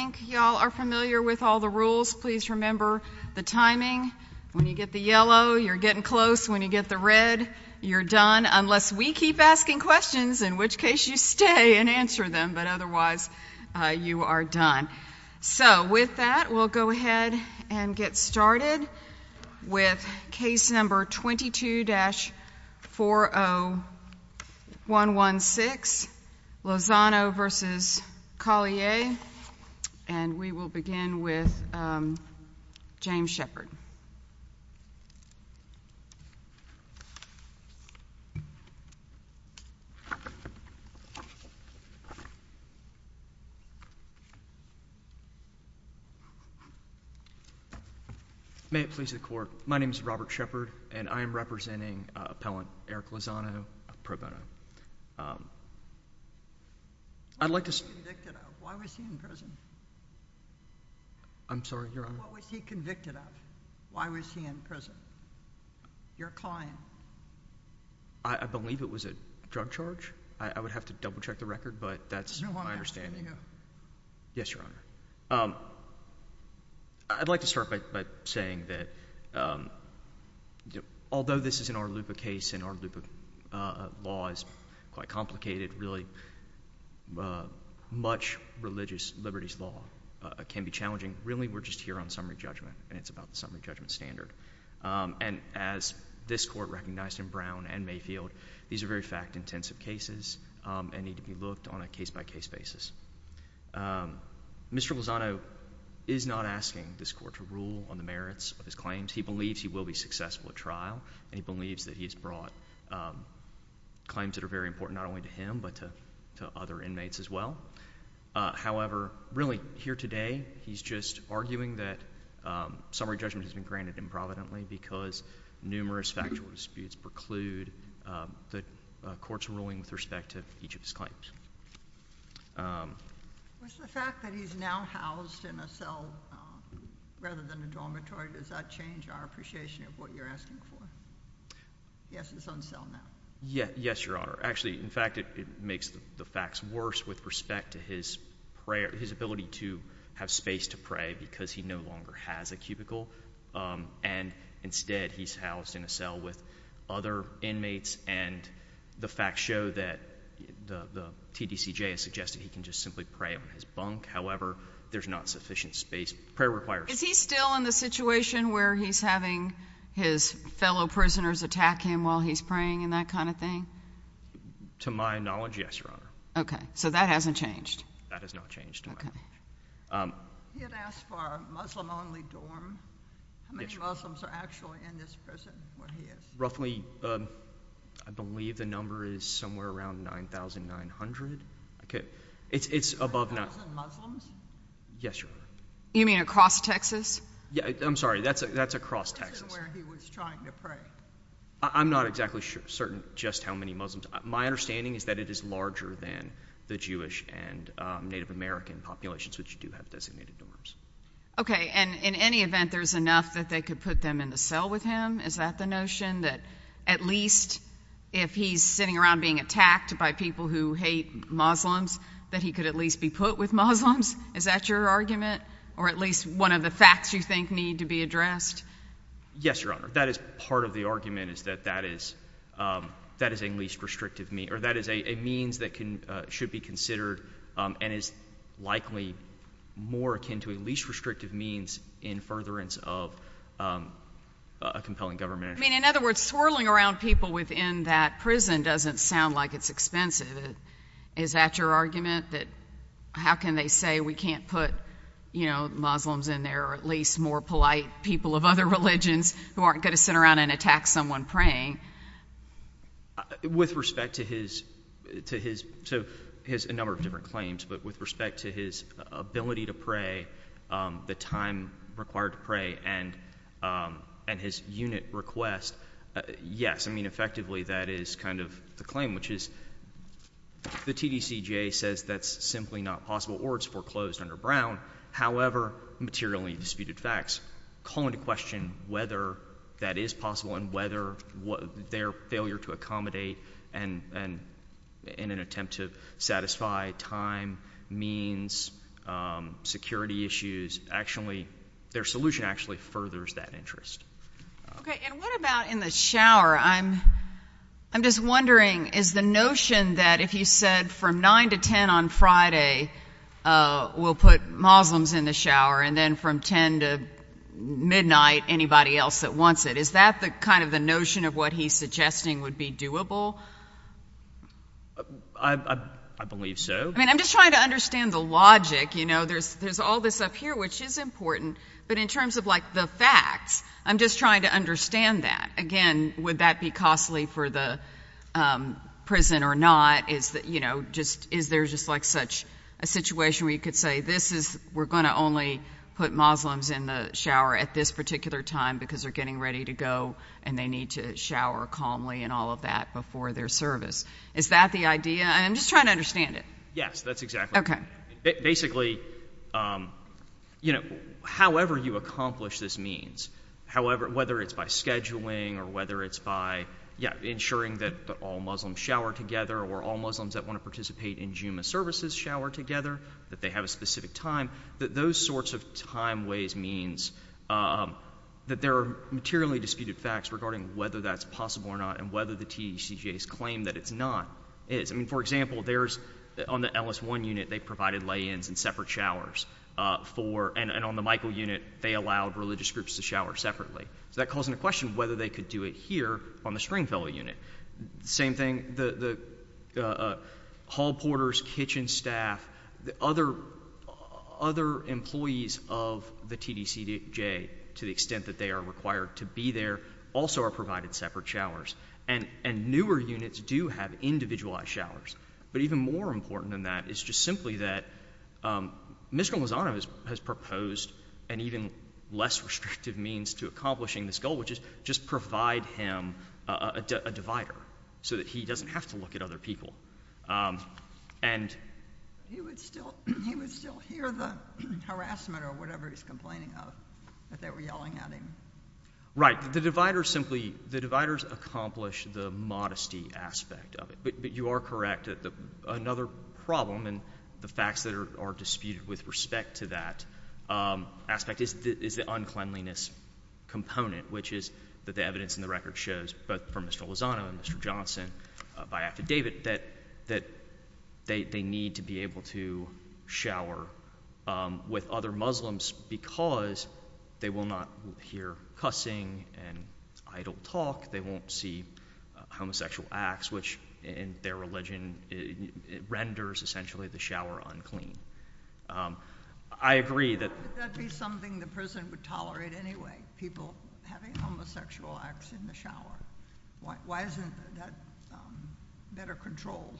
I think you all are familiar with all the rules. Please remember the timing. When you get the yellow, you're getting close. When you get the red, you're done. Unless we keep asking questions, in which case you stay and answer them. But otherwise, you are done. So with that, we'll go ahead and get started with case number 22-40116, Lozano v. Collier. And we will begin with James Shepherd. May it please the Court. My name is Robert Shepherd, and I am representing Appellant Eric Lozano, pro bono. What was he convicted of? Why was he in prison? I'm sorry, Your Honor? What was he convicted of? Why was he in prison? Your client. I believe it was a drug charge. I would have to double-check the record, but that's my understanding. No, I'm asking you. Yes, Your Honor. I'd like to start by saying that although this is an Oral Lupa case and Oral Lupa law is quite complicated, really, much religious liberties law can be challenging. Really, we're just here on summary judgment, and it's about the summary judgment standard. And as this Court recognized in Brown and Mayfield, these are very fact-intensive cases and need to be looked on a case-by-case basis. Mr. Lozano is not asking this Court to rule on the merits of his claims. He believes he will be successful at trial, and he believes that he has brought claims that are very important not only to him, but to other inmates as well. However, really, here today, he's just arguing that summary judgment has been granted improvidently because numerous factual disputes preclude the Court's ruling with respect to each of his claims. With the fact that he's now housed in a cell rather than a dormitory, does that change our appreciation of what you're asking for? Yes, it's on cell now. Yes, Your Honor. Actually, in fact, it makes the facts worse with respect to his prayer — his ability to have space to pray because he no longer has a cubicle. And instead, he's housed in a cell with other inmates, and the facts show that the TDCJ has suggested he can just simply pray on his bunk. However, there's not sufficient space. Prayer requires — Is he still in the situation where he's having his fellow prisoners attack him while he's praying and that kind of thing? To my knowledge, yes, Your Honor. Okay. So that hasn't changed? That has not changed. Okay. He had asked for a Muslim-only dorm. Yes, Your Honor. How many Muslims are actually in this prison, where he is? Roughly — I believe the number is somewhere around 9,900. It's above — Yes, Your Honor. Across Texas? Yes, Your Honor. Across Texas? Yes, Your Honor. Across Texas? Yes, Your Honor. Okay. Across Texas? I'm sorry. That's across Texas. This isn't where he was trying to pray. I'm not exactly certain just how many Muslims — my understanding is that it is larger than the Jewish and Native American populations, which do have designated dorms. Okay. And in any event, there's enough that they could put them in the cell with him? Is that the notion, that at least if he's sitting around being attacked by people who hate Muslims, that he could at least be put with Muslims? Is that your argument? Or at least one of the facts you think need to be addressed? Yes, Your Honor. That is part of the argument, is that that is a least restrictive — or that is a means that should be considered and is likely more akin to a least restrictive means in furtherance of a compelling government. I mean, in other words, swirling around people within that prison doesn't sound like it's expensive. Is that your argument? That — how can they say we can't put, you know, Muslims in there, or at least more polite people of other religions who aren't going to sit around and attack someone praying? With respect to his — to his — so, his — a number of different claims, but with respect to his ability to pray, the time required to pray, and his unit request, yes. I mean, effectively, that is kind of the claim, which is the TDCJ says that's simply not possible or it's foreclosed under Brown. However, materially disputed facts call into question whether that is possible and whether their failure to accommodate and — in an attempt to satisfy time, means, security issues, actually — their solution actually furthers that interest. Okay. And what about in the shower? I'm — I'm just wondering, is the notion that if you said from 9 to 10 on Friday, we'll put Muslims in the shower, and then from 10 to midnight, anybody else that wants it, is that the — kind of the notion of what he's suggesting would be doable? I — I believe so. I mean, I'm just trying to understand the logic. You know, there's — there's all this up here, which is important, but in terms of, like, the facts, I'm just trying to understand that. Again, would that be costly for the prison or not? Is that — you know, just — is there just, like, such a situation where you could say, this is — we're going to only put Muslims in the shower at this particular time because they're getting ready to go and they need to shower calmly and all of that before their service? Is that the idea? And I'm just trying to understand it. Yes, that's exactly — Okay. I mean, basically, you know, however you accomplish this means, however — whether it's by scheduling or whether it's by, yeah, ensuring that all Muslims shower together or all Muslims that want to participate in Juma services shower together, that they have a specific time, that those sorts of timeways means that there are materially disputed facts regarding whether that's possible or not and whether the TDCJ's claim that it's not is. I mean, for example, there's — on the Ellis I unit, they provided lay-ins and separate showers for — and on the Michael unit, they allowed religious groups to shower separately. So that calls into question whether they could do it here on the Springfellow unit. Same thing, the Hallporters, kitchen staff, the other employees of the TDCJ, to the extent that they are required to be there, also are provided separate showers. And newer units do have individualized showers. But even more important than that is just simply that Mr. Lozano has proposed an even less restrictive means to accomplishing this goal, which is just provide him a divider so that he doesn't have to look at other people. And — He would still hear the harassment or whatever he's complaining of, that they were yelling at him. Right. The dividers simply — the dividers accomplish the modesty aspect of it. But you are correct that another problem in the facts that are disputed with respect to that aspect is the uncleanliness component, which is that the evidence in the record shows, both from Mr. Lozano and Mr. Johnson, by affidavit, that they need to be able to shower with other Muslims because they will not hear cussing and idle talk, they won't see homosexual acts, which in their religion renders essentially the shower unclean. I agree that — Why would that be something the prison would tolerate anyway, people having homosexual acts in the shower? Why isn't that better controlled?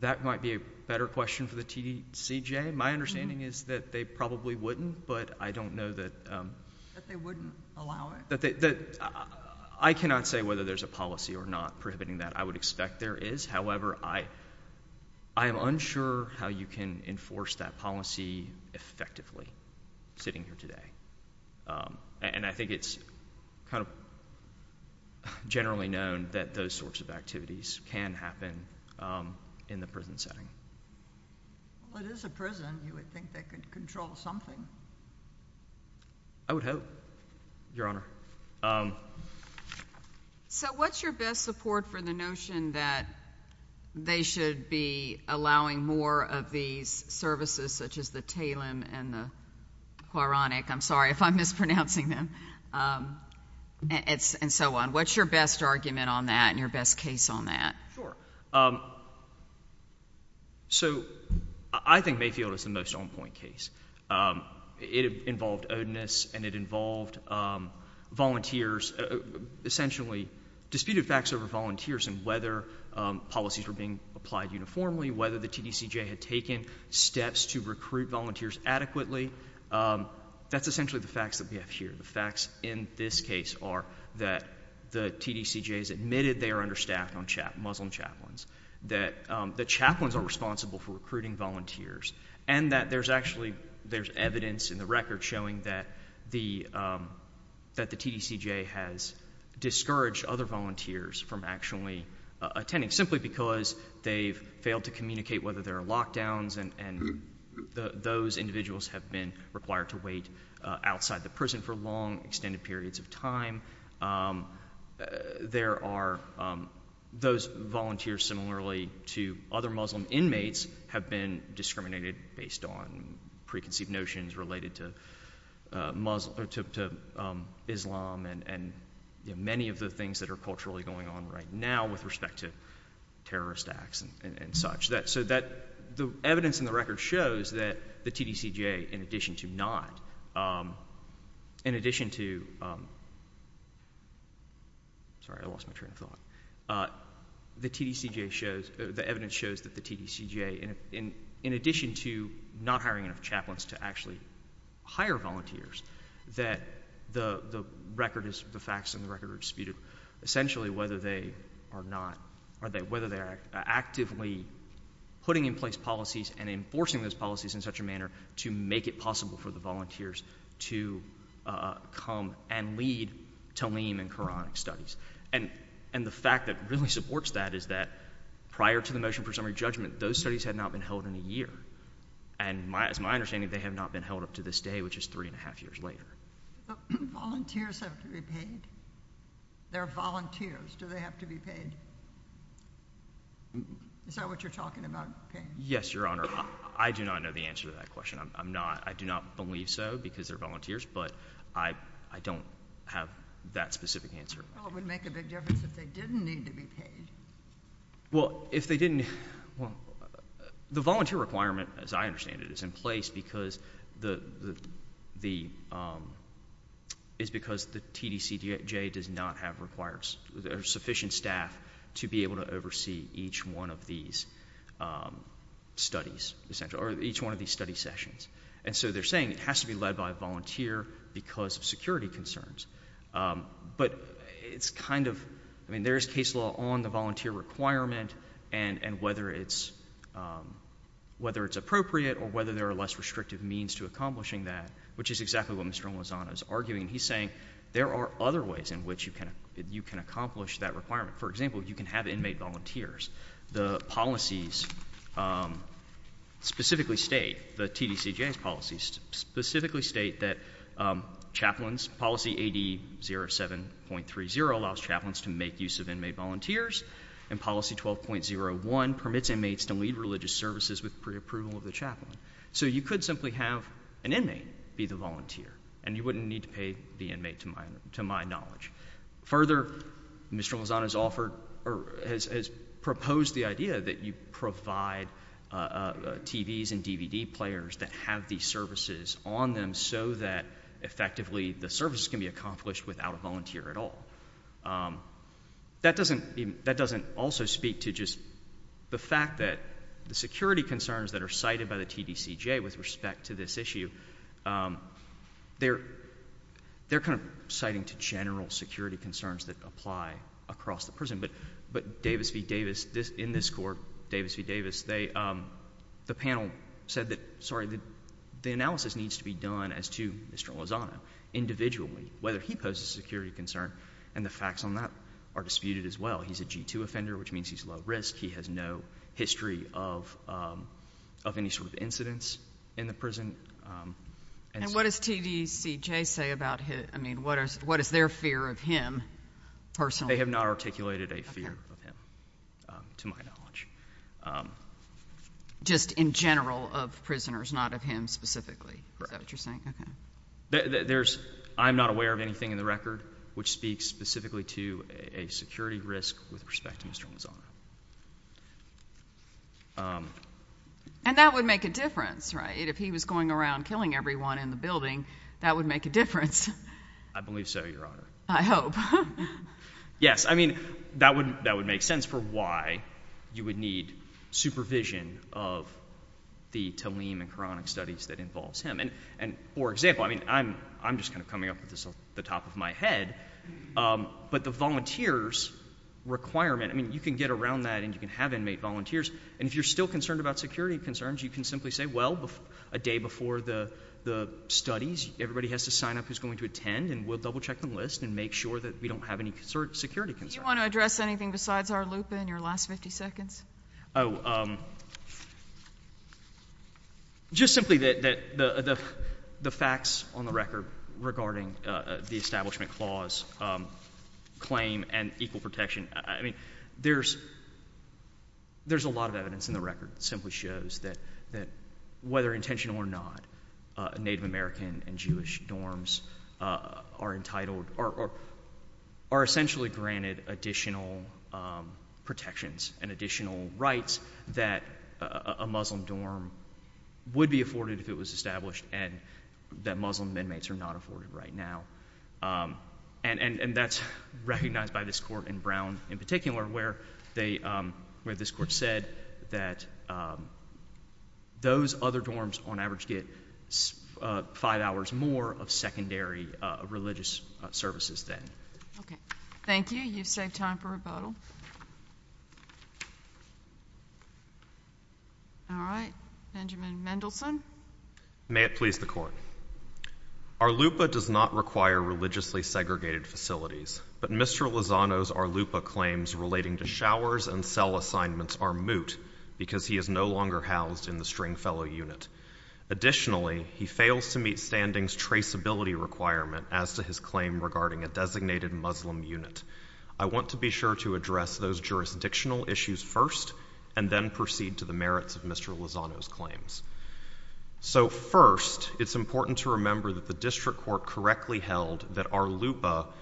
That might be a better question for the TDCJ. My understanding is that they probably wouldn't, but I don't know that — That they wouldn't allow it? I cannot say whether there's a policy or not prohibiting that. I would expect there is. However, I am unsure how you can enforce that policy effectively, sitting here today. And I think it's kind of generally known that those sorts of activities can happen in the prison setting. Well, it is a prison. You would think they could control something? I would hope, Your Honor. So what's your best support for the notion that they should be allowing more of these I'm sorry if I'm mispronouncing them. And so on. What's your best argument on that and your best case on that? So I think Mayfield is the most on-point case. It involved odinous and it involved volunteers — essentially disputed facts over volunteers and whether policies were being applied uniformly, whether the TDCJ had taken steps to recruit volunteers adequately. That's essentially the facts that we have here. The facts in this case are that the TDCJ has admitted they are understaffed on Muslim chaplains, that chaplains are responsible for recruiting volunteers, and that there's actually — there's evidence in the record showing that the TDCJ has discouraged other volunteers from actually attending, simply because they've failed to communicate whether there are lockdowns and those individuals have been required to wait outside the prison for long, extended periods of time. There are — those volunteers, similarly to other Muslim inmates, have been discriminated based on preconceived notions related to Islam and many of the things that are culturally going on right now with respect to terrorist acts and such. So that — the evidence in the record shows that the TDCJ, in addition to not — in addition to — sorry, I lost my train of thought. The TDCJ shows — the evidence shows that the TDCJ, in addition to not hiring enough chaplains to actually hire volunteers, that the record is — the facts in the record are disputed, essentially whether they are not — whether they are actively putting in place policies and enforcing those policies in such a manner to make it possible for the volunteers to come and lead Talim and Quranic studies. And the fact that really supports that is that, prior to the motion for summary judgment, those studies had not been held in a year. And it's my understanding they have not been held up to this day, which is three-and-a-half years later. But volunteers have to be paid. They're volunteers. Do they have to be paid? Is that what you're talking about, paying? Yes, Your Honor. I do not know the answer to that question. I'm not — I do not believe so because they're volunteers, but I don't have that specific answer. Well, it would make a big difference if they didn't need to be paid. Well, if they didn't — well, the volunteer requirement, as I understand it, is in place because the — is because the TDCJ does not have required — or sufficient staff to be able to oversee each one of these studies, essentially, or each one of these study sessions. And so they're saying it has to be led by a volunteer because of security concerns. But it's kind of — I mean, there's case law on the volunteer requirement and whether it's — whether it's appropriate or whether there are less restrictive means to accomplishing that, which is exactly what Mr. Mlazano is arguing. He's saying there are other ways in which you can accomplish that requirement. For example, you can have inmate volunteers. The policies specifically state — the TDCJ's policies specifically state that chaplains — policy AD 07.30 allows chaplains to make use of inmate volunteers, and policy 12.01 permits inmates to lead religious services with preapproval of the chaplain. So you could simply have an inmate be the volunteer, and you wouldn't need to pay the inmate, to my knowledge. Further, Mr. Mlazano has offered — or has proposed the idea that you provide TVs and services can be accomplished without a volunteer at all. That doesn't — that doesn't also speak to just the fact that the security concerns that are cited by the TDCJ with respect to this issue, they're kind of citing to general security concerns that apply across the prison. But Davis v. Davis, in this court, Davis v. Davis, they — the panel said that — sorry, the analysis needs to be done as to Mr. Mlazano individually, whether he poses a security concern, and the facts on that are disputed as well. He's a G-2 offender, which means he's low-risk. He has no history of any sort of incidents in the prison. And what does TDCJ say about his — I mean, what is their fear of him personally? They have not articulated a fear of him, to my knowledge. Just in general, of prisoners, not of him specifically, is that what you're saying? Correct. Okay. There's — I'm not aware of anything in the record which speaks specifically to a security risk with respect to Mr. Mlazano. And that would make a difference, right? If he was going around killing everyone in the building, that would make a difference. I believe so, Your Honor. I hope. Yes. I mean, that would make sense for why you would need supervision of the Talim and Quranic studies that involves him. And for example, I mean, I'm just kind of coming up with this off the top of my head, but the volunteers' requirement — I mean, you can get around that, and you can have inmate volunteers. And if you're still concerned about security concerns, you can simply say, well, a day before the studies, everybody has to sign up who's going to attend, and we'll double-check the list and make sure that we don't have any security concerns. Do you want to address anything besides our loop in your last 50 seconds? Oh, just simply that the facts on the record regarding the Establishment Clause claim and equal protection, I mean, there's a lot of evidence in the record that simply shows that whether intentional or not, Native American and Jewish dorms are entitled — or are essentially granted additional protections and additional rights that a Muslim dorm would be afforded if it was established and that Muslim inmates are not afforded right now. And that's recognized by this court in Brown in particular, where they — where this court said that those other dorms on average get five hours more of secondary religious services than — Okay. Thank you. You've saved time for rebuttal. All right. Benjamin Mendelson. May it please the Court. Our LUPA does not require religiously segregated facilities, but Mr. Lozano's our LUPA claims relating to showers and cell assignments are moot because he is no longer housed in the Stringfellow Unit. Additionally, he fails to meet standings traceability requirement as to his claim regarding a designated Muslim unit. I want to be sure to address those jurisdictional issues first and then proceed to the merits of Mr. Lozano's claims. So first, it's important to remember that the District Court correctly held that our inmates,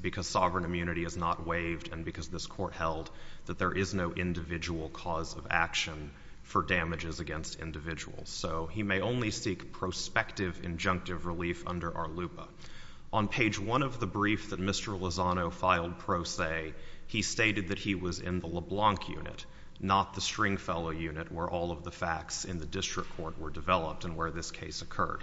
because sovereign immunity is not waived and because this Court held that there is no individual cause of action for damages against individuals. So he may only seek prospective injunctive relief under our LUPA. On page one of the brief that Mr. Lozano filed pro se, he stated that he was in the LeBlanc Unit, not the Stringfellow Unit, where all of the facts in the District Court were developed and where this case occurred.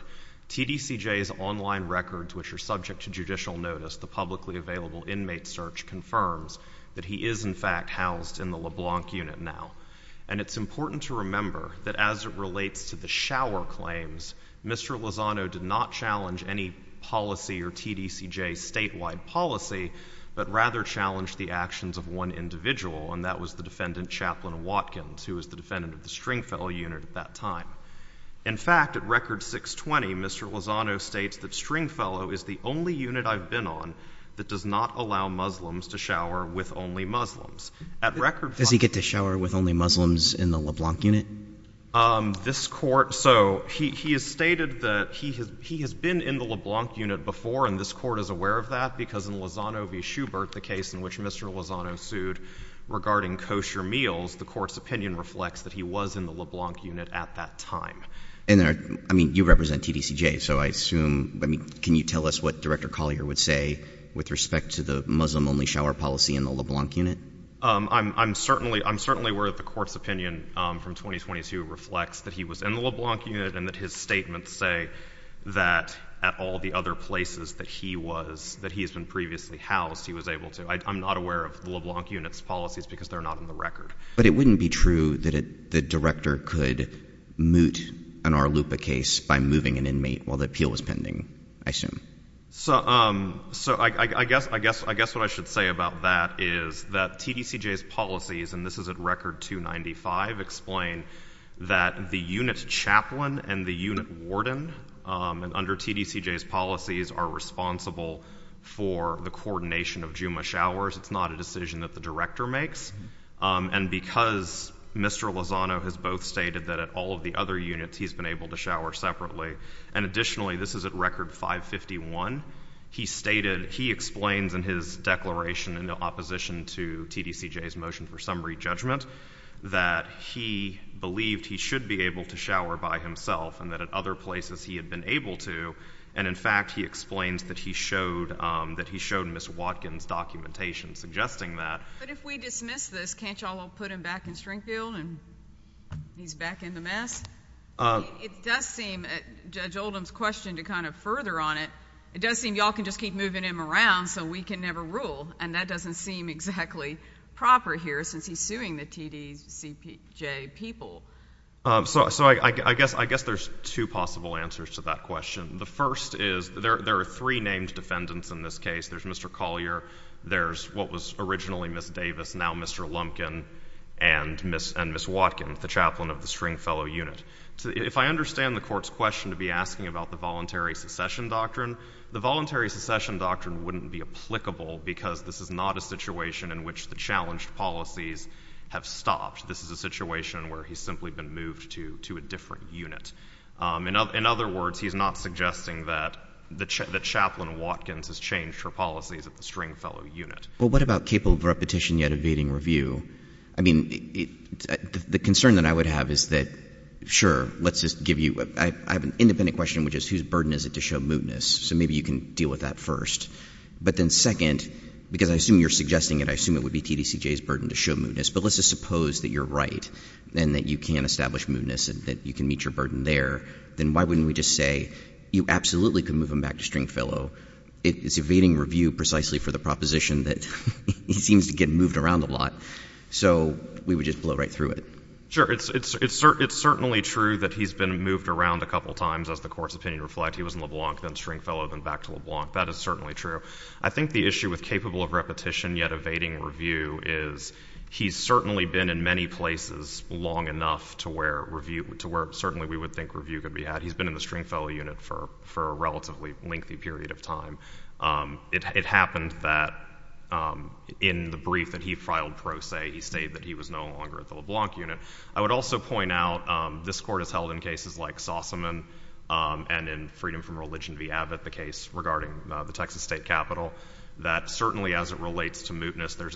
TDCJ's online records, which are subject to judicial notice, the publicly available inmate search, confirms that he is, in fact, housed in the LeBlanc Unit now. And it's important to remember that as it relates to the shower claims, Mr. Lozano did not challenge any policy or TDCJ statewide policy, but rather challenged the actions of one individual, and that was the defendant, Chaplain Watkins, who was the defendant of the Stringfellow Unit at that time. In fact, at Record 620, Mr. Lozano states that Stringfellow is the only unit I've been on that does not allow Muslims to shower with only Muslims. At Record 5— Does he get to shower with only Muslims in the LeBlanc Unit? This Court — so he has stated that he has been in the LeBlanc Unit before, and this Court is aware of that because in Lozano v. Schubert, the case in which Mr. Lozano sued regarding kosher meals, the Court's opinion reflects that he was in the LeBlanc Unit at that time. And then, I mean, you represent TDCJ, so I assume — I mean, can you tell us what Director Collier would say with respect to the Muslim-only shower policy in the LeBlanc Unit? I'm certainly — I'm certainly aware that the Court's opinion from 2022 reflects that he was in the LeBlanc Unit and that his statements say that at all the other places that he was — that he has been previously housed, he was able to — I'm not aware of the LeBlanc Unit's policies because they're not in the record. But it wouldn't be true that the Director could moot an Arlupa case by moving an inmate while the appeal was pending, I assume. So I guess — I guess what I should say about that is that TDCJ's policies, and this is at Record 295, explain that the unit chaplain and the unit warden under TDCJ's policies are responsible for the coordination of Juma showers. It's not a decision that the Director makes. And because Mr. Lozano has both stated that at all of the other units he's been able to shower separately, and additionally, this is at Record 551, he stated — he explains in his declaration in opposition to TDCJ's motion for summary judgment that he believed he should be able to shower by himself and that at other places he had been able to. And in fact, he explains that he showed — that he showed Ms. Watkins' documentation suggesting that — But if we dismiss this, can't y'all put him back in Stringfield and he's back in the mess? It does seem — Judge Oldham's question to kind of further on it, it does seem y'all can just keep moving him around so we can never rule. And that doesn't seem exactly proper here since he's suing the TDCJ people. So I guess there's two possible answers to that question. The first is there are three named defendants in this case. There's Mr. Collier, there's what was originally Ms. Davis, now Mr. Lumpkin, and Ms. Watkins, the chaplain of the Stringfellow unit. If I understand the Court's question to be asking about the voluntary succession doctrine, the voluntary succession doctrine wouldn't be applicable because this is not a situation in which the challenged policies have stopped. This is a situation where he's simply been moved to a different unit. In other words, he's not suggesting that Chaplain Watkins has changed her policies at the Stringfellow unit. Well, what about capable of repetition yet evading review? I mean, the concern that I would have is that, sure, let's just give you — I have an independent question, which is whose burden is it to show mootness? So maybe you can deal with that first. But then second, because I assume you're suggesting it, I assume it would be TDCJ's burden to establish mootness and that you can meet your burden there, then why wouldn't we just say you absolutely could move him back to Stringfellow? It's evading review precisely for the proposition that he seems to get moved around a lot. So we would just blow right through it. Sure. It's certainly true that he's been moved around a couple times, as the Court's opinion reflects. He was in LeBlanc, then Stringfellow, then back to LeBlanc. That is certainly true. I think the issue with capable of repetition yet evading review is he's certainly been in many places long enough to where review — to where certainly we would think review could be had. He's been in the Stringfellow unit for a relatively lengthy period of time. It happened that in the brief that he filed pro se, he stated that he was no longer at the LeBlanc unit. I would also point out this Court has held in cases like Sossaman and in Freedom from Religion v. Abbott, the case regarding the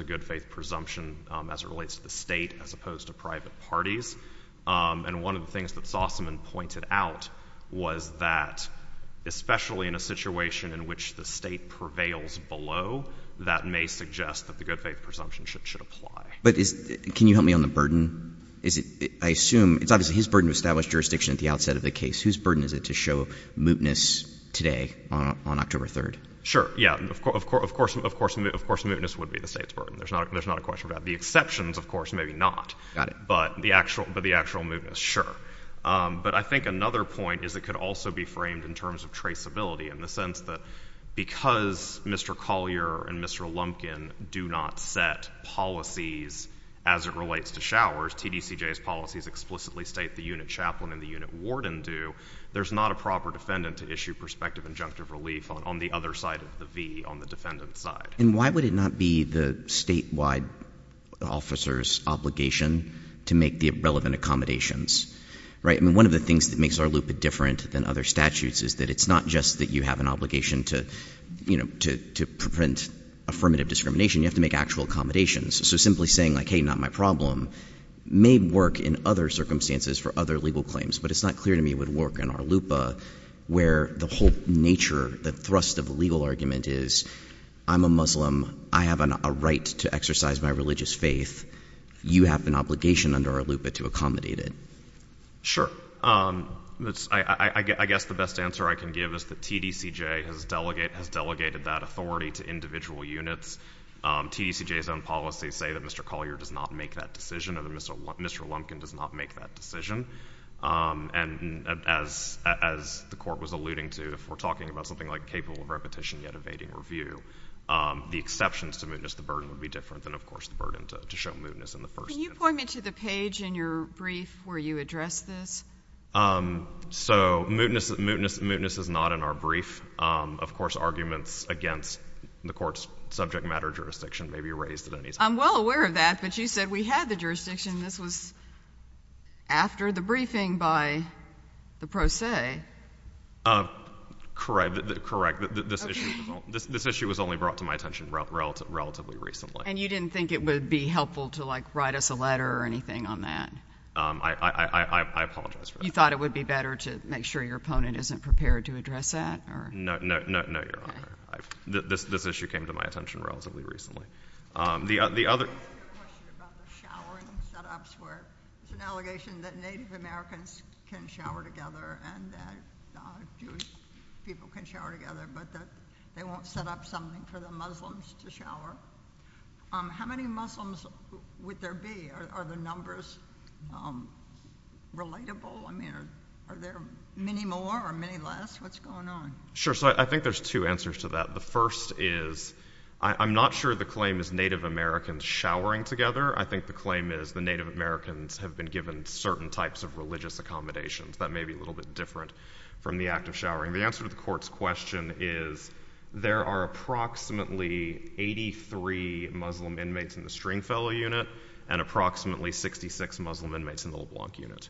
good faith presumption as it relates to the State as opposed to private parties. And one of the things that Sossaman pointed out was that especially in a situation in which the State prevails below, that may suggest that the good faith presumption should apply. But is — can you help me on the burden? Is it — I assume — it's obviously his burden to establish jurisdiction at the outset of the case. Whose burden is it to show mootness today on October 3rd? Sure. Yeah. Of course, mootness would be the State's burden. There's not a question about that. The exceptions, of course, maybe not. Got it. But the actual mootness, sure. But I think another point is it could also be framed in terms of traceability in the sense that because Mr. Collier and Mr. Lumpkin do not set policies as it relates to showers, TDCJ's policies explicitly state the unit chaplain and the unit warden do, there's not a proper defendant to issue prospective injunctive relief on the other side of the V, on the defendant's side. And why would it not be the statewide officer's obligation to make the relevant accommodations, right? I mean, one of the things that makes ARLUPA different than other statutes is that it's not just that you have an obligation to, you know, to — to prevent affirmative discrimination. You have to make actual accommodations. So simply saying, like, hey, not my problem may work in other circumstances for other legal claims, but it's not clear to me it whole nature, the thrust of the legal argument is, I'm a Muslim. I have a right to exercise my religious faith. You have an obligation under ARLUPA to accommodate it. Sure. I guess the best answer I can give is that TDCJ has delegated that authority to individual units. TDCJ's own policies say that Mr. Collier does not make that decision and that Mr. — Mr. Lumpkin does not make that decision. And as — as the Court was alluding to, if we're talking about something like capable of repetition yet evading review, the exceptions to mootness, the burden would be different than, of course, the burden to show mootness in the first instance. Can you point me to the page in your brief where you address this? So mootness — mootness — mootness is not in our brief. Of course, arguments against the Court's subject matter jurisdiction may be raised at any time. I'm well aware of that, but you said we had the jurisdiction. This was after the briefing by the pro se. Correct. Correct. This issue was only brought to my attention relatively recently. And you didn't think it would be helpful to, like, write us a letter or anything on that? I apologize for that. You thought it would be better to make sure your opponent isn't prepared to address that? No, Your Honor. No, Your Honor. This issue came to my attention relatively recently. The other — I have a question about the showering set-ups, where there's an allegation that Native Americans can shower together and that Jewish people can shower together, but that they won't set up something for the Muslims to shower. How many Muslims would there be? Are the numbers relatable? I mean, are there many more or many less? What's going on? Sure. So I think there's two answers to that. The first is, I'm not sure the claim is Native Americans showering together. I think the claim is the Native Americans have been given certain types of religious accommodations. That may be a little bit different from the act of showering. The answer to the Court's question is there are approximately 83 Muslim inmates in the Stringfellow Unit and approximately 66 Muslim inmates in the LeBlanc Unit.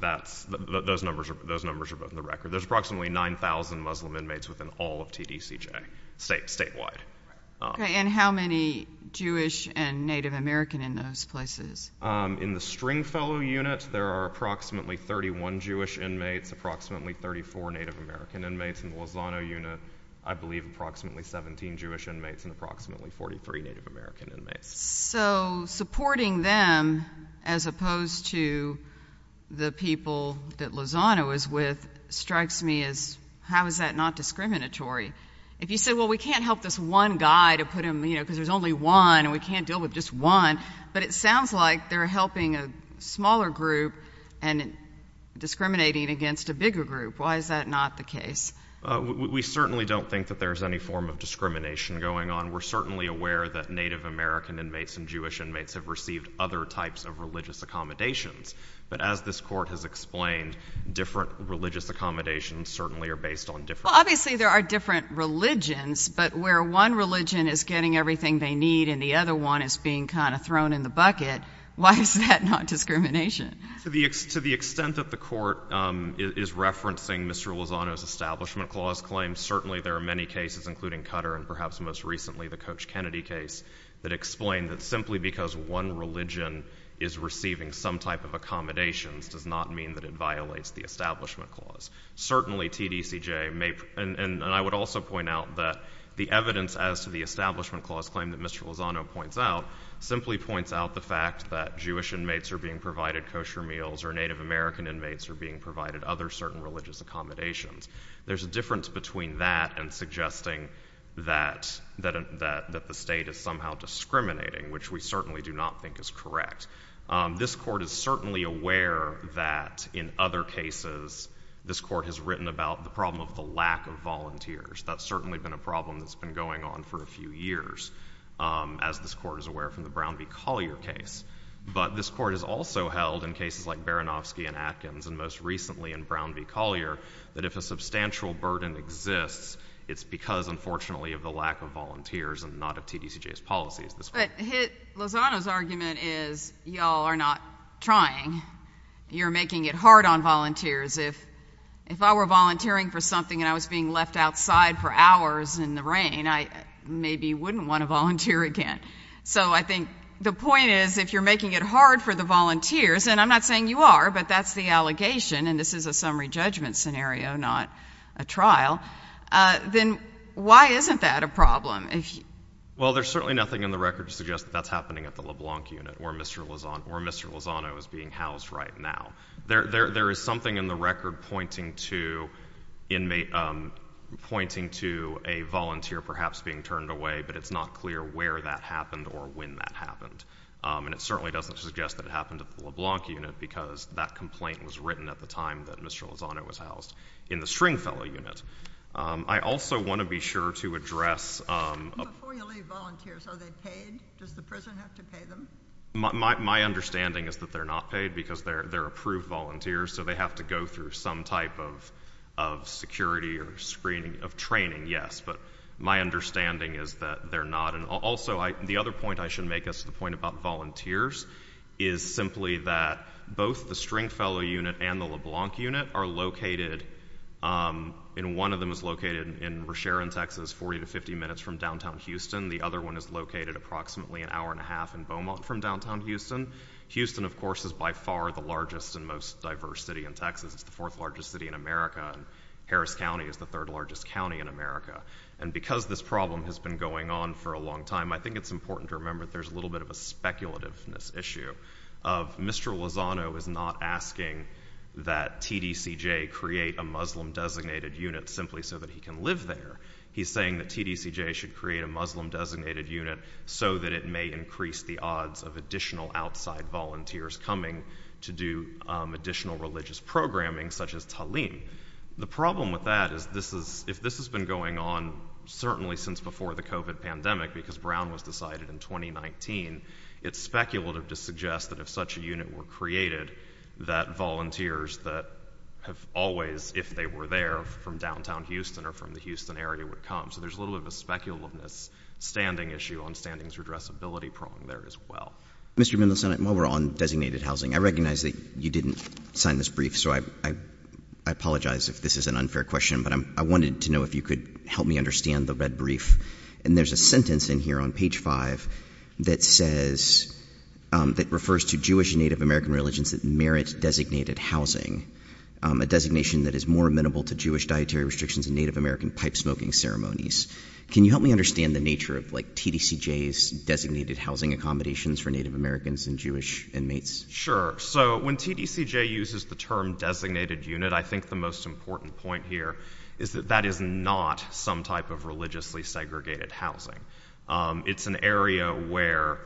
Those numbers are both in the record. There's approximately 9,000 Muslim inmates within all of TDCJ statewide. And how many Jewish and Native American in those places? In the Stringfellow Unit, there are approximately 31 Jewish inmates, approximately 34 Native American inmates. In the Lozano Unit, I believe approximately 17 Jewish inmates and approximately 143 Native American inmates. So supporting them as opposed to the people that Lozano is with strikes me as, how is that not discriminatory? If you say, well, we can't help this one guy because there's only one and we can't deal with just one, but it sounds like they're helping a smaller group and discriminating against a bigger group. Why is that not the case? We certainly don't think that there's any form of discrimination going on. We're certainly aware that Native American inmates and Jewish inmates have received other types of religious accommodations. But as this Court has explained, different religious accommodations certainly are based on different… Well, obviously there are different religions, but where one religion is getting everything they need and the other one is being kind of thrown in the bucket, why is that not discrimination? To the extent that the Court is referencing Mr. Lozano's Establishment Clause claim, certainly there are many cases, including Cutter and perhaps most recently the Coach Kennedy case, that explain that simply because one religion is receiving some type of accommodations does not mean that it violates the Establishment Clause. Certainly TDCJ may, and I would also point out that the evidence as to the Establishment Clause claim that Mr. Lozano points out simply points out the fact that Jewish inmates are being provided kosher meals or Native American inmates are being provided other certain religious accommodations. There's a difference between that and suggesting that the state is somehow discriminating, which we certainly do not think is correct. This Court is certainly aware that in other cases this Court has written about the problem of the lack of volunteers. That's certainly been a problem that's been going on for a few years, as this Court is aware from the Brown v. Collier case. But this Court has also held in cases like Baranofsky and Atkins and most recently in Brown v. Collier that if a substantial burden exists, it's because, unfortunately, of the lack of volunteers and not of TDCJ's policies. But Lozano's argument is y'all are not trying. You're making it hard on volunteers. If I were volunteering for something and I was being left outside for hours in the rain, I maybe wouldn't want to volunteer again. So I think the point is, if you're making it hard for the volunteers, and I'm not saying you are, but that's the allegation, and this is a summary judgment scenario, not a trial, then why isn't that a problem? Well, there's certainly nothing in the record to suggest that that's happening at the LeBlanc unit where Mr. Lozano is being housed right now. There is something in the record pointing to a volunteer perhaps being turned away, but it's not clear where that happened or when that happened. And it certainly doesn't suggest that it happened at the LeBlanc unit because that complaint was written at the time that Mr. Lozano was housed in the Stringfellow unit. I also want to be sure to address— Before you leave volunteers, are they paid? Does the prison have to pay them? My understanding is that they're not paid because they're approved volunteers, so they have to go through some type of security or screening, of training, yes. But my understanding is that they're not. Also, the other point I should make as to the point about volunteers is simply that both the Stringfellow unit and the LeBlanc unit are located, and one of them is located in Resheron, Texas, 40 to 50 minutes from downtown Houston. The other one is located approximately an hour and a half in Beaumont from downtown Houston. Houston, of course, is by far the largest and most diverse city in Texas. It's the fourth-largest city in America, and Harris County is the third-largest county in America. And because this problem has been going on for a long time, I think it's important to remember that there's a little bit of a speculativeness issue of Mr. Lozano is not asking that TDCJ create a Muslim-designated unit simply so that he can live there. He's saying that TDCJ should create a Muslim-designated unit so that it may increase the odds of additional outside volunteers coming to do additional religious programming, such as Talim. The problem with that is if this has been going on certainly since before the COVID pandemic, because Brown was decided in 2019, it's speculative to suggest that if such a unit were created, that volunteers that have always, if they were there from downtown Houston or from the Houston area, would come. So there's a little bit of a speculativeness standing issue on standings redressability prong there as well. Mr. Mendelson, while we're on designated housing, I recognize that you didn't sign this brief, so I apologize if this is an unfair question, but I wanted to know if you could help me understand the red brief. And there's a sentence in here on page 5 that says, that refers to Jewish and Native American religions that merit designated housing, a designation that is more amenable to Jewish dietary restrictions and Native American pipe-smoking ceremonies. Can you help me understand the nature of like TDCJ's designated housing accommodations for Native Americans and Jewish inmates? Sure. So when TDCJ uses the term designated unit, I think the most important point here is that that is not some type of religiously segregated housing. It's an area where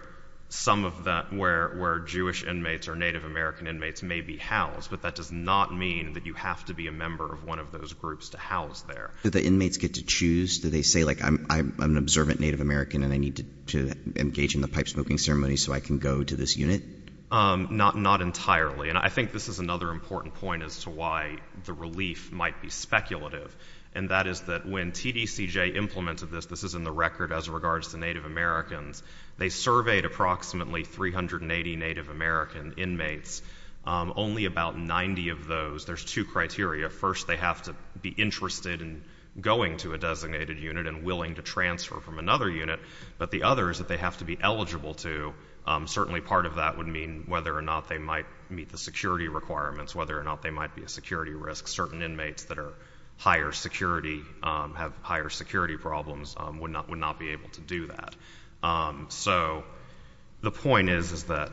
some of that, where, where Jewish inmates or Native American inmates may be housed, but that does not mean that you have to be a member of one of those groups to house there. Do the inmates get to choose? Do they say like, I'm an observant Native American and I need to engage in the pipe-smoking ceremony so I can go to this unit? Not, not entirely. And I think this is another important point as to why the relief might be speculative. And that is that when TDCJ implemented this, this is in the record as regards to Native Americans, they surveyed approximately 380 Native American inmates. Only about 90 of those, there's two criteria. First, they have to be interested in going to a designated unit and willing to transfer from another unit. But the other is that they have to be eligible to, certainly part of that would mean whether or not they might meet the security requirements, whether or not they might be a security risk. Certain inmates that are higher security, have higher security problems, would not, would not be able to do that. So the point is, is that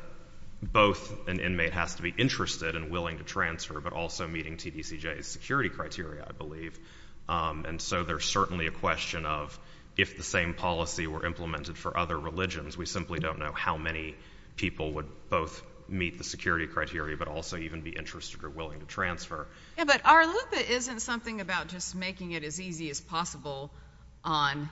both an inmate has to be interested and willing to transfer, but also meeting TDCJ's security criteria, I believe. And so there's certainly a question of if the same policy were implemented for other religions, we simply don't know how many people would both meet the security criteria, but also even be interested or willing to transfer. Yeah, but our loop isn't something about just making it as easy as possible on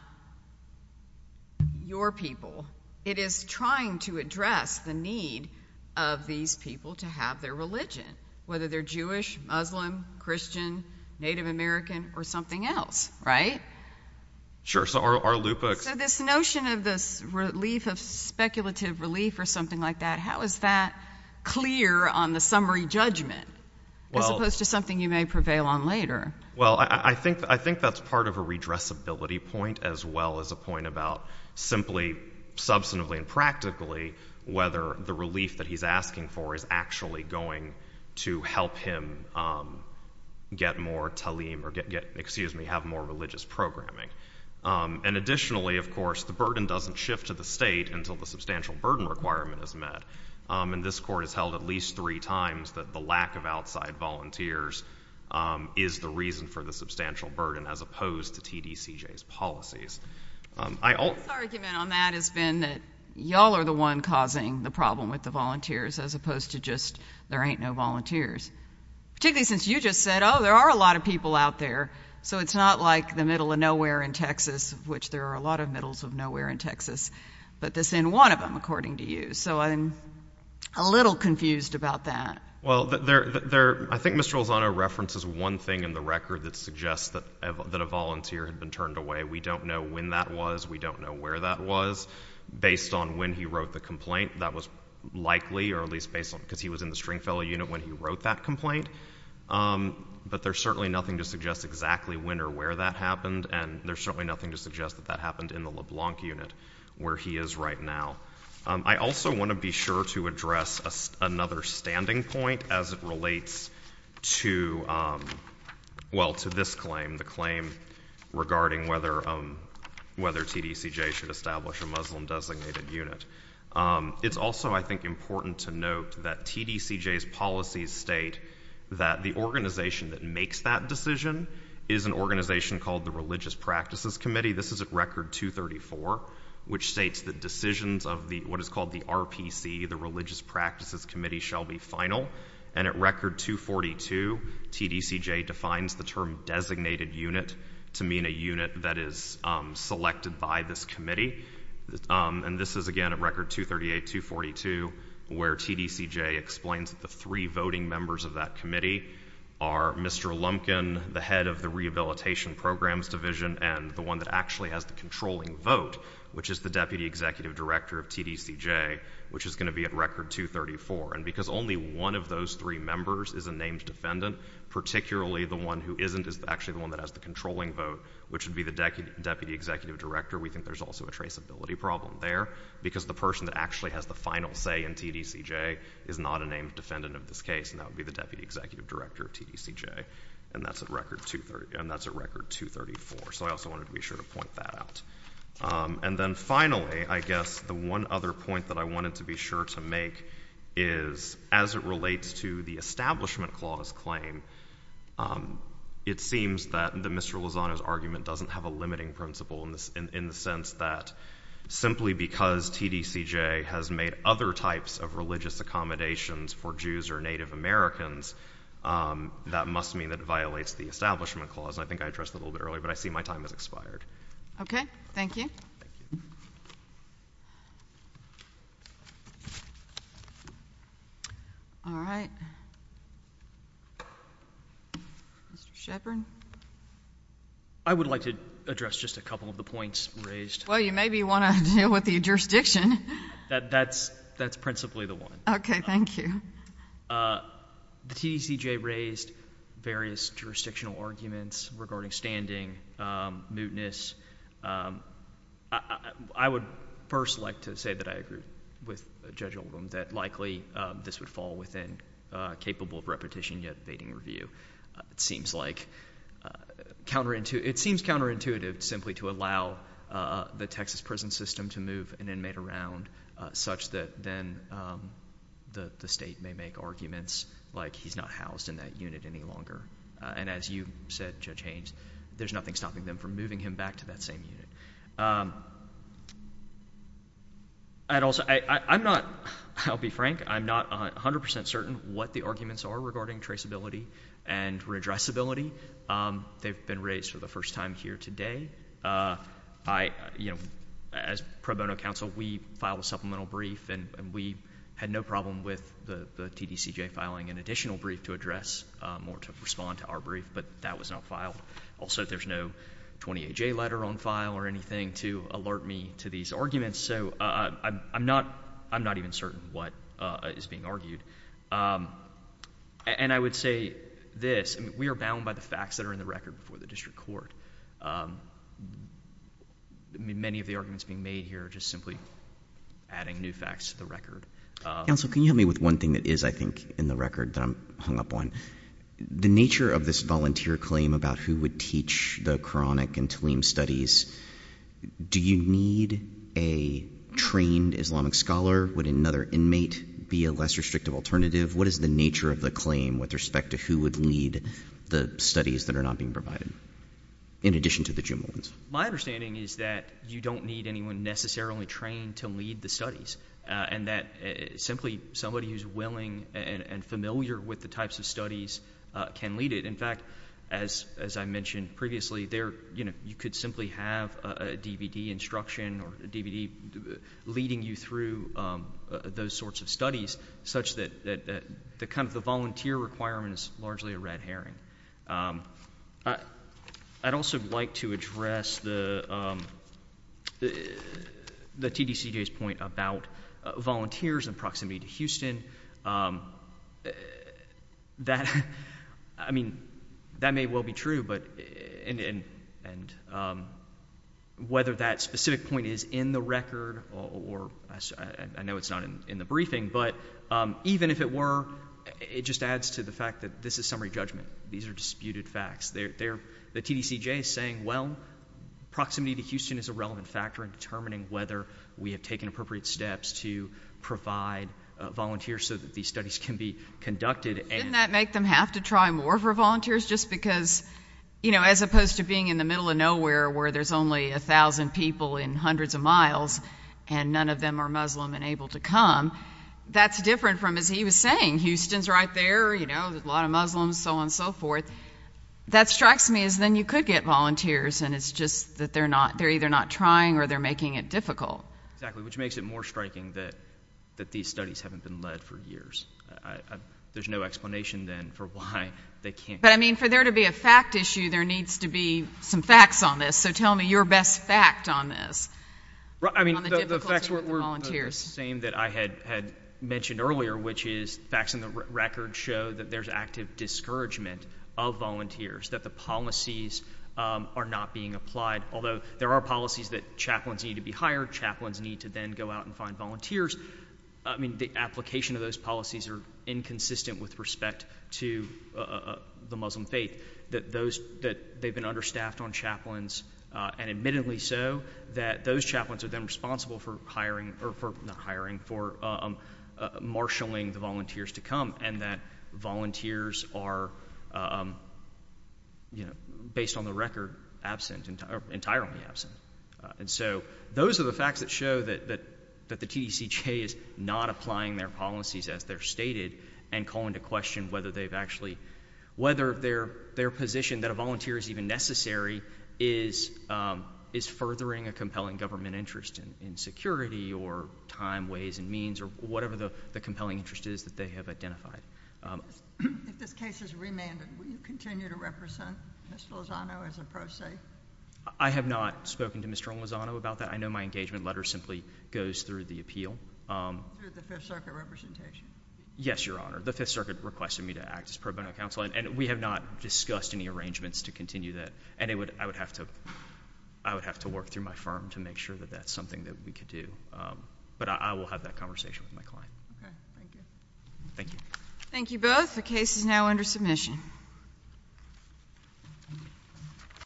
your people. It is trying to address the need of these people to have their religion, whether they're Jewish, Muslim, Christian, Native American, or something else, right? Sure, so our loop of... So this notion of this relief of speculative relief or something like that, how is that clear on the summary judgment, as opposed to something you may prevail on later? Well, I think that's part of a redressability point, as well as a point about simply, substantively and practically, whether the relief that he's asking for is actually going to help him get more talim or get, excuse me, have more religious programming. And additionally, of course, the burden doesn't shift to the state until the substantial burden requirement is met. And this Court has held at least three times that the lack of outside volunteers is the reason for the substantial burden, as opposed to TDCJ's policies. My argument on that has been that y'all are the one causing the problem with the volunteers, as opposed to just, there ain't no volunteers. Particularly since you just said, oh, there are a lot of people out there. So it's not like the middle of nowhere in Texas, which there are a lot of middles of nowhere in Texas, but this in one of them, according to you. So I'm a little confused about that. Well, I think Mr. Lozano references one thing in the record that suggests that a volunteer had been turned away. We don't know when that was. We don't know where that was. Based on when he wrote the complaint, that was likely, or at least based on, because he was in the Stringfellow unit when he wrote that complaint. But there's certainly nothing to suggest exactly when or where that happened. And there's certainly nothing to suggest that that happened in the LeBlanc unit where he is right now. I also want to be sure to address another standing point as it relates to, well, to this claim, the claim regarding whether TDCJ should establish a Muslim-designated unit. It's also, I think, important to note that TDCJ's policies state that the organization that makes that decision is an organization called the Religious Practices Committee. This is at record 234, which states that decisions of what is called the RPC, the Religious Practices Committee, shall be final. And at record 242, TDCJ defines the term designated unit to mean a unit that is selected by this committee. And this is, again, at record 238, 242, where TDCJ explains that the three voting members of that committee are Mr. Lumpkin, the head of the Rehabilitation Programs Division, and the one that actually has the controlling vote, which is the Deputy Executive Director of TDCJ, which is going to be at record 234. And because only one of those three members is a named defendant, particularly the one who isn't is actually the one that has the controlling vote, which would be the Deputy Executive Director, we think there's also a traceability problem there because the person that actually has the final say in TDCJ is not a named defendant of this case, and that would be the Deputy Executive Director of TDCJ. And that's at record 234. So I wanted to be sure to point that out. And then finally, I guess the one other point that I wanted to be sure to make is as it relates to the Establishment Clause claim, it seems that Mr. Lozano's argument doesn't have a limiting principle in the sense that simply because TDCJ has made other types of religious accommodations for Jews or Native Americans, that must mean that it violates the Establishment Clause. And I think I addressed that a little bit Okay. Thank you. All right. Mr. Sheppard? I would like to address just a couple of the points raised. Well, you maybe want to deal with the jurisdiction. That's principally the one. Okay. Thank you. The TDCJ raised various jurisdictional arguments regarding standing, mootness. I would first like to say that I agree with Judge Oldham that likely this would fall within capable of repetition yet evading review. It seems counterintuitive simply to allow the Texas prison system to move an inmate around such that then the state may make arguments like he's not housed in that unit any longer. And as you said, Judge Haynes, there's nothing stopping them from moving him back to that same unit. I'll be frank. I'm not 100% certain what the arguments are regarding traceability and redressability. They've been raised for the You know, as pro bono counsel, we filed a supplemental brief, and we had no problem with the TDCJ filing an additional brief to address or to respond to our brief. But that was not filed. Also, there's no 28J letter on file or anything to alert me to these arguments. So I'm not even certain what is being argued. And I would say this. We are bound by the facts that are in the record before the district court. Many of the arguments being made here are just simply adding new facts to the record. Counsel, can you help me with one thing that is, I think, in the record that I'm hung up on? The nature of this volunteer claim about who would teach the Quranic and Talim studies, do you need a trained Islamic scholar? Would another inmate be a less restrictive alternative? What is the nature of the claim with respect to who would lead the studies that are not being provided, in addition to the Jumu'ah ones? My understanding is that you don't need anyone necessarily trained to lead the studies, and that simply somebody who's willing and familiar with the types of studies can lead it. In fact, as I mentioned previously, you could simply have a DVD instruction or a DVD leading you through those sorts of studies, such that the kind of the volunteer requirement is largely a red herring. I'd also like to address the TDCJ's point about volunteers and proximity to Houston. That, I mean, that may well be true, but, and whether that specific point is in the record or, I know it's not in the briefing, but even if it were, it just adds to the fact that this is summary judgment. These are disputed facts. They're, the TDCJ is saying, well, proximity to Houston is a relevant factor in determining whether we have taken appropriate steps to provide volunteers so that these studies can be conducted. Didn't that make them have to try more for volunteers, just because, you know, as opposed to being in the middle of nowhere, where there's only a thousand people in hundreds of miles, and none of them are Muslim and able to come, that's different from, as he was saying, Houston's right there, you know, a lot of Muslims, so on and so forth. That strikes me as then you could get volunteers, and it's just that they're not, they're either not trying or they're making it difficult. Exactly, which makes it more striking that these studies haven't been led for years. There's no explanation then for why they can't. But, I mean, for there to be a fact issue, there needs to be some facts on this, so tell me your best fact on this. I mean, the facts were the same that I had mentioned earlier, which is facts in the record show that there's active discouragement of volunteers, that the policies are not being applied, although there are policies that chaplains need to be hired, chaplains need to then go out and find volunteers. I mean, the application of those policies are inconsistent with respect to the Muslim faith, that those, that they've been understaffed on chaplains, and admittedly so, that those chaplains are then responsible for hiring, or for, not hiring, for marshaling the volunteers to come, and that volunteers are, you know, based on the record, absent, entirely absent. And so those are the facts that show that the TDCJ is not applying their policies as they're stated, and calling to question whether they've actually, whether their, their position that a volunteer is even necessary is, is furthering a compelling government interest in security, or time, ways, and means, or whatever the compelling interest is that they have identified. If this case is remanded, will you continue to represent Mr. Lozano as a pro se? I have not spoken to Mr. Lozano about that. I know my engagement letter simply goes through the appeal. Through the Fifth Circuit representation? Yes, Your Honor. The Fifth Circuit requested me to act as pro bono counsel, and we have not discussed any arrangements to continue that. And it would, I would have to, I would have to work through my firm to make sure that that's something that we could do. But I will have that conversation with my client. Okay. Thank you. Thank you. Thank you both. The case is now under submission.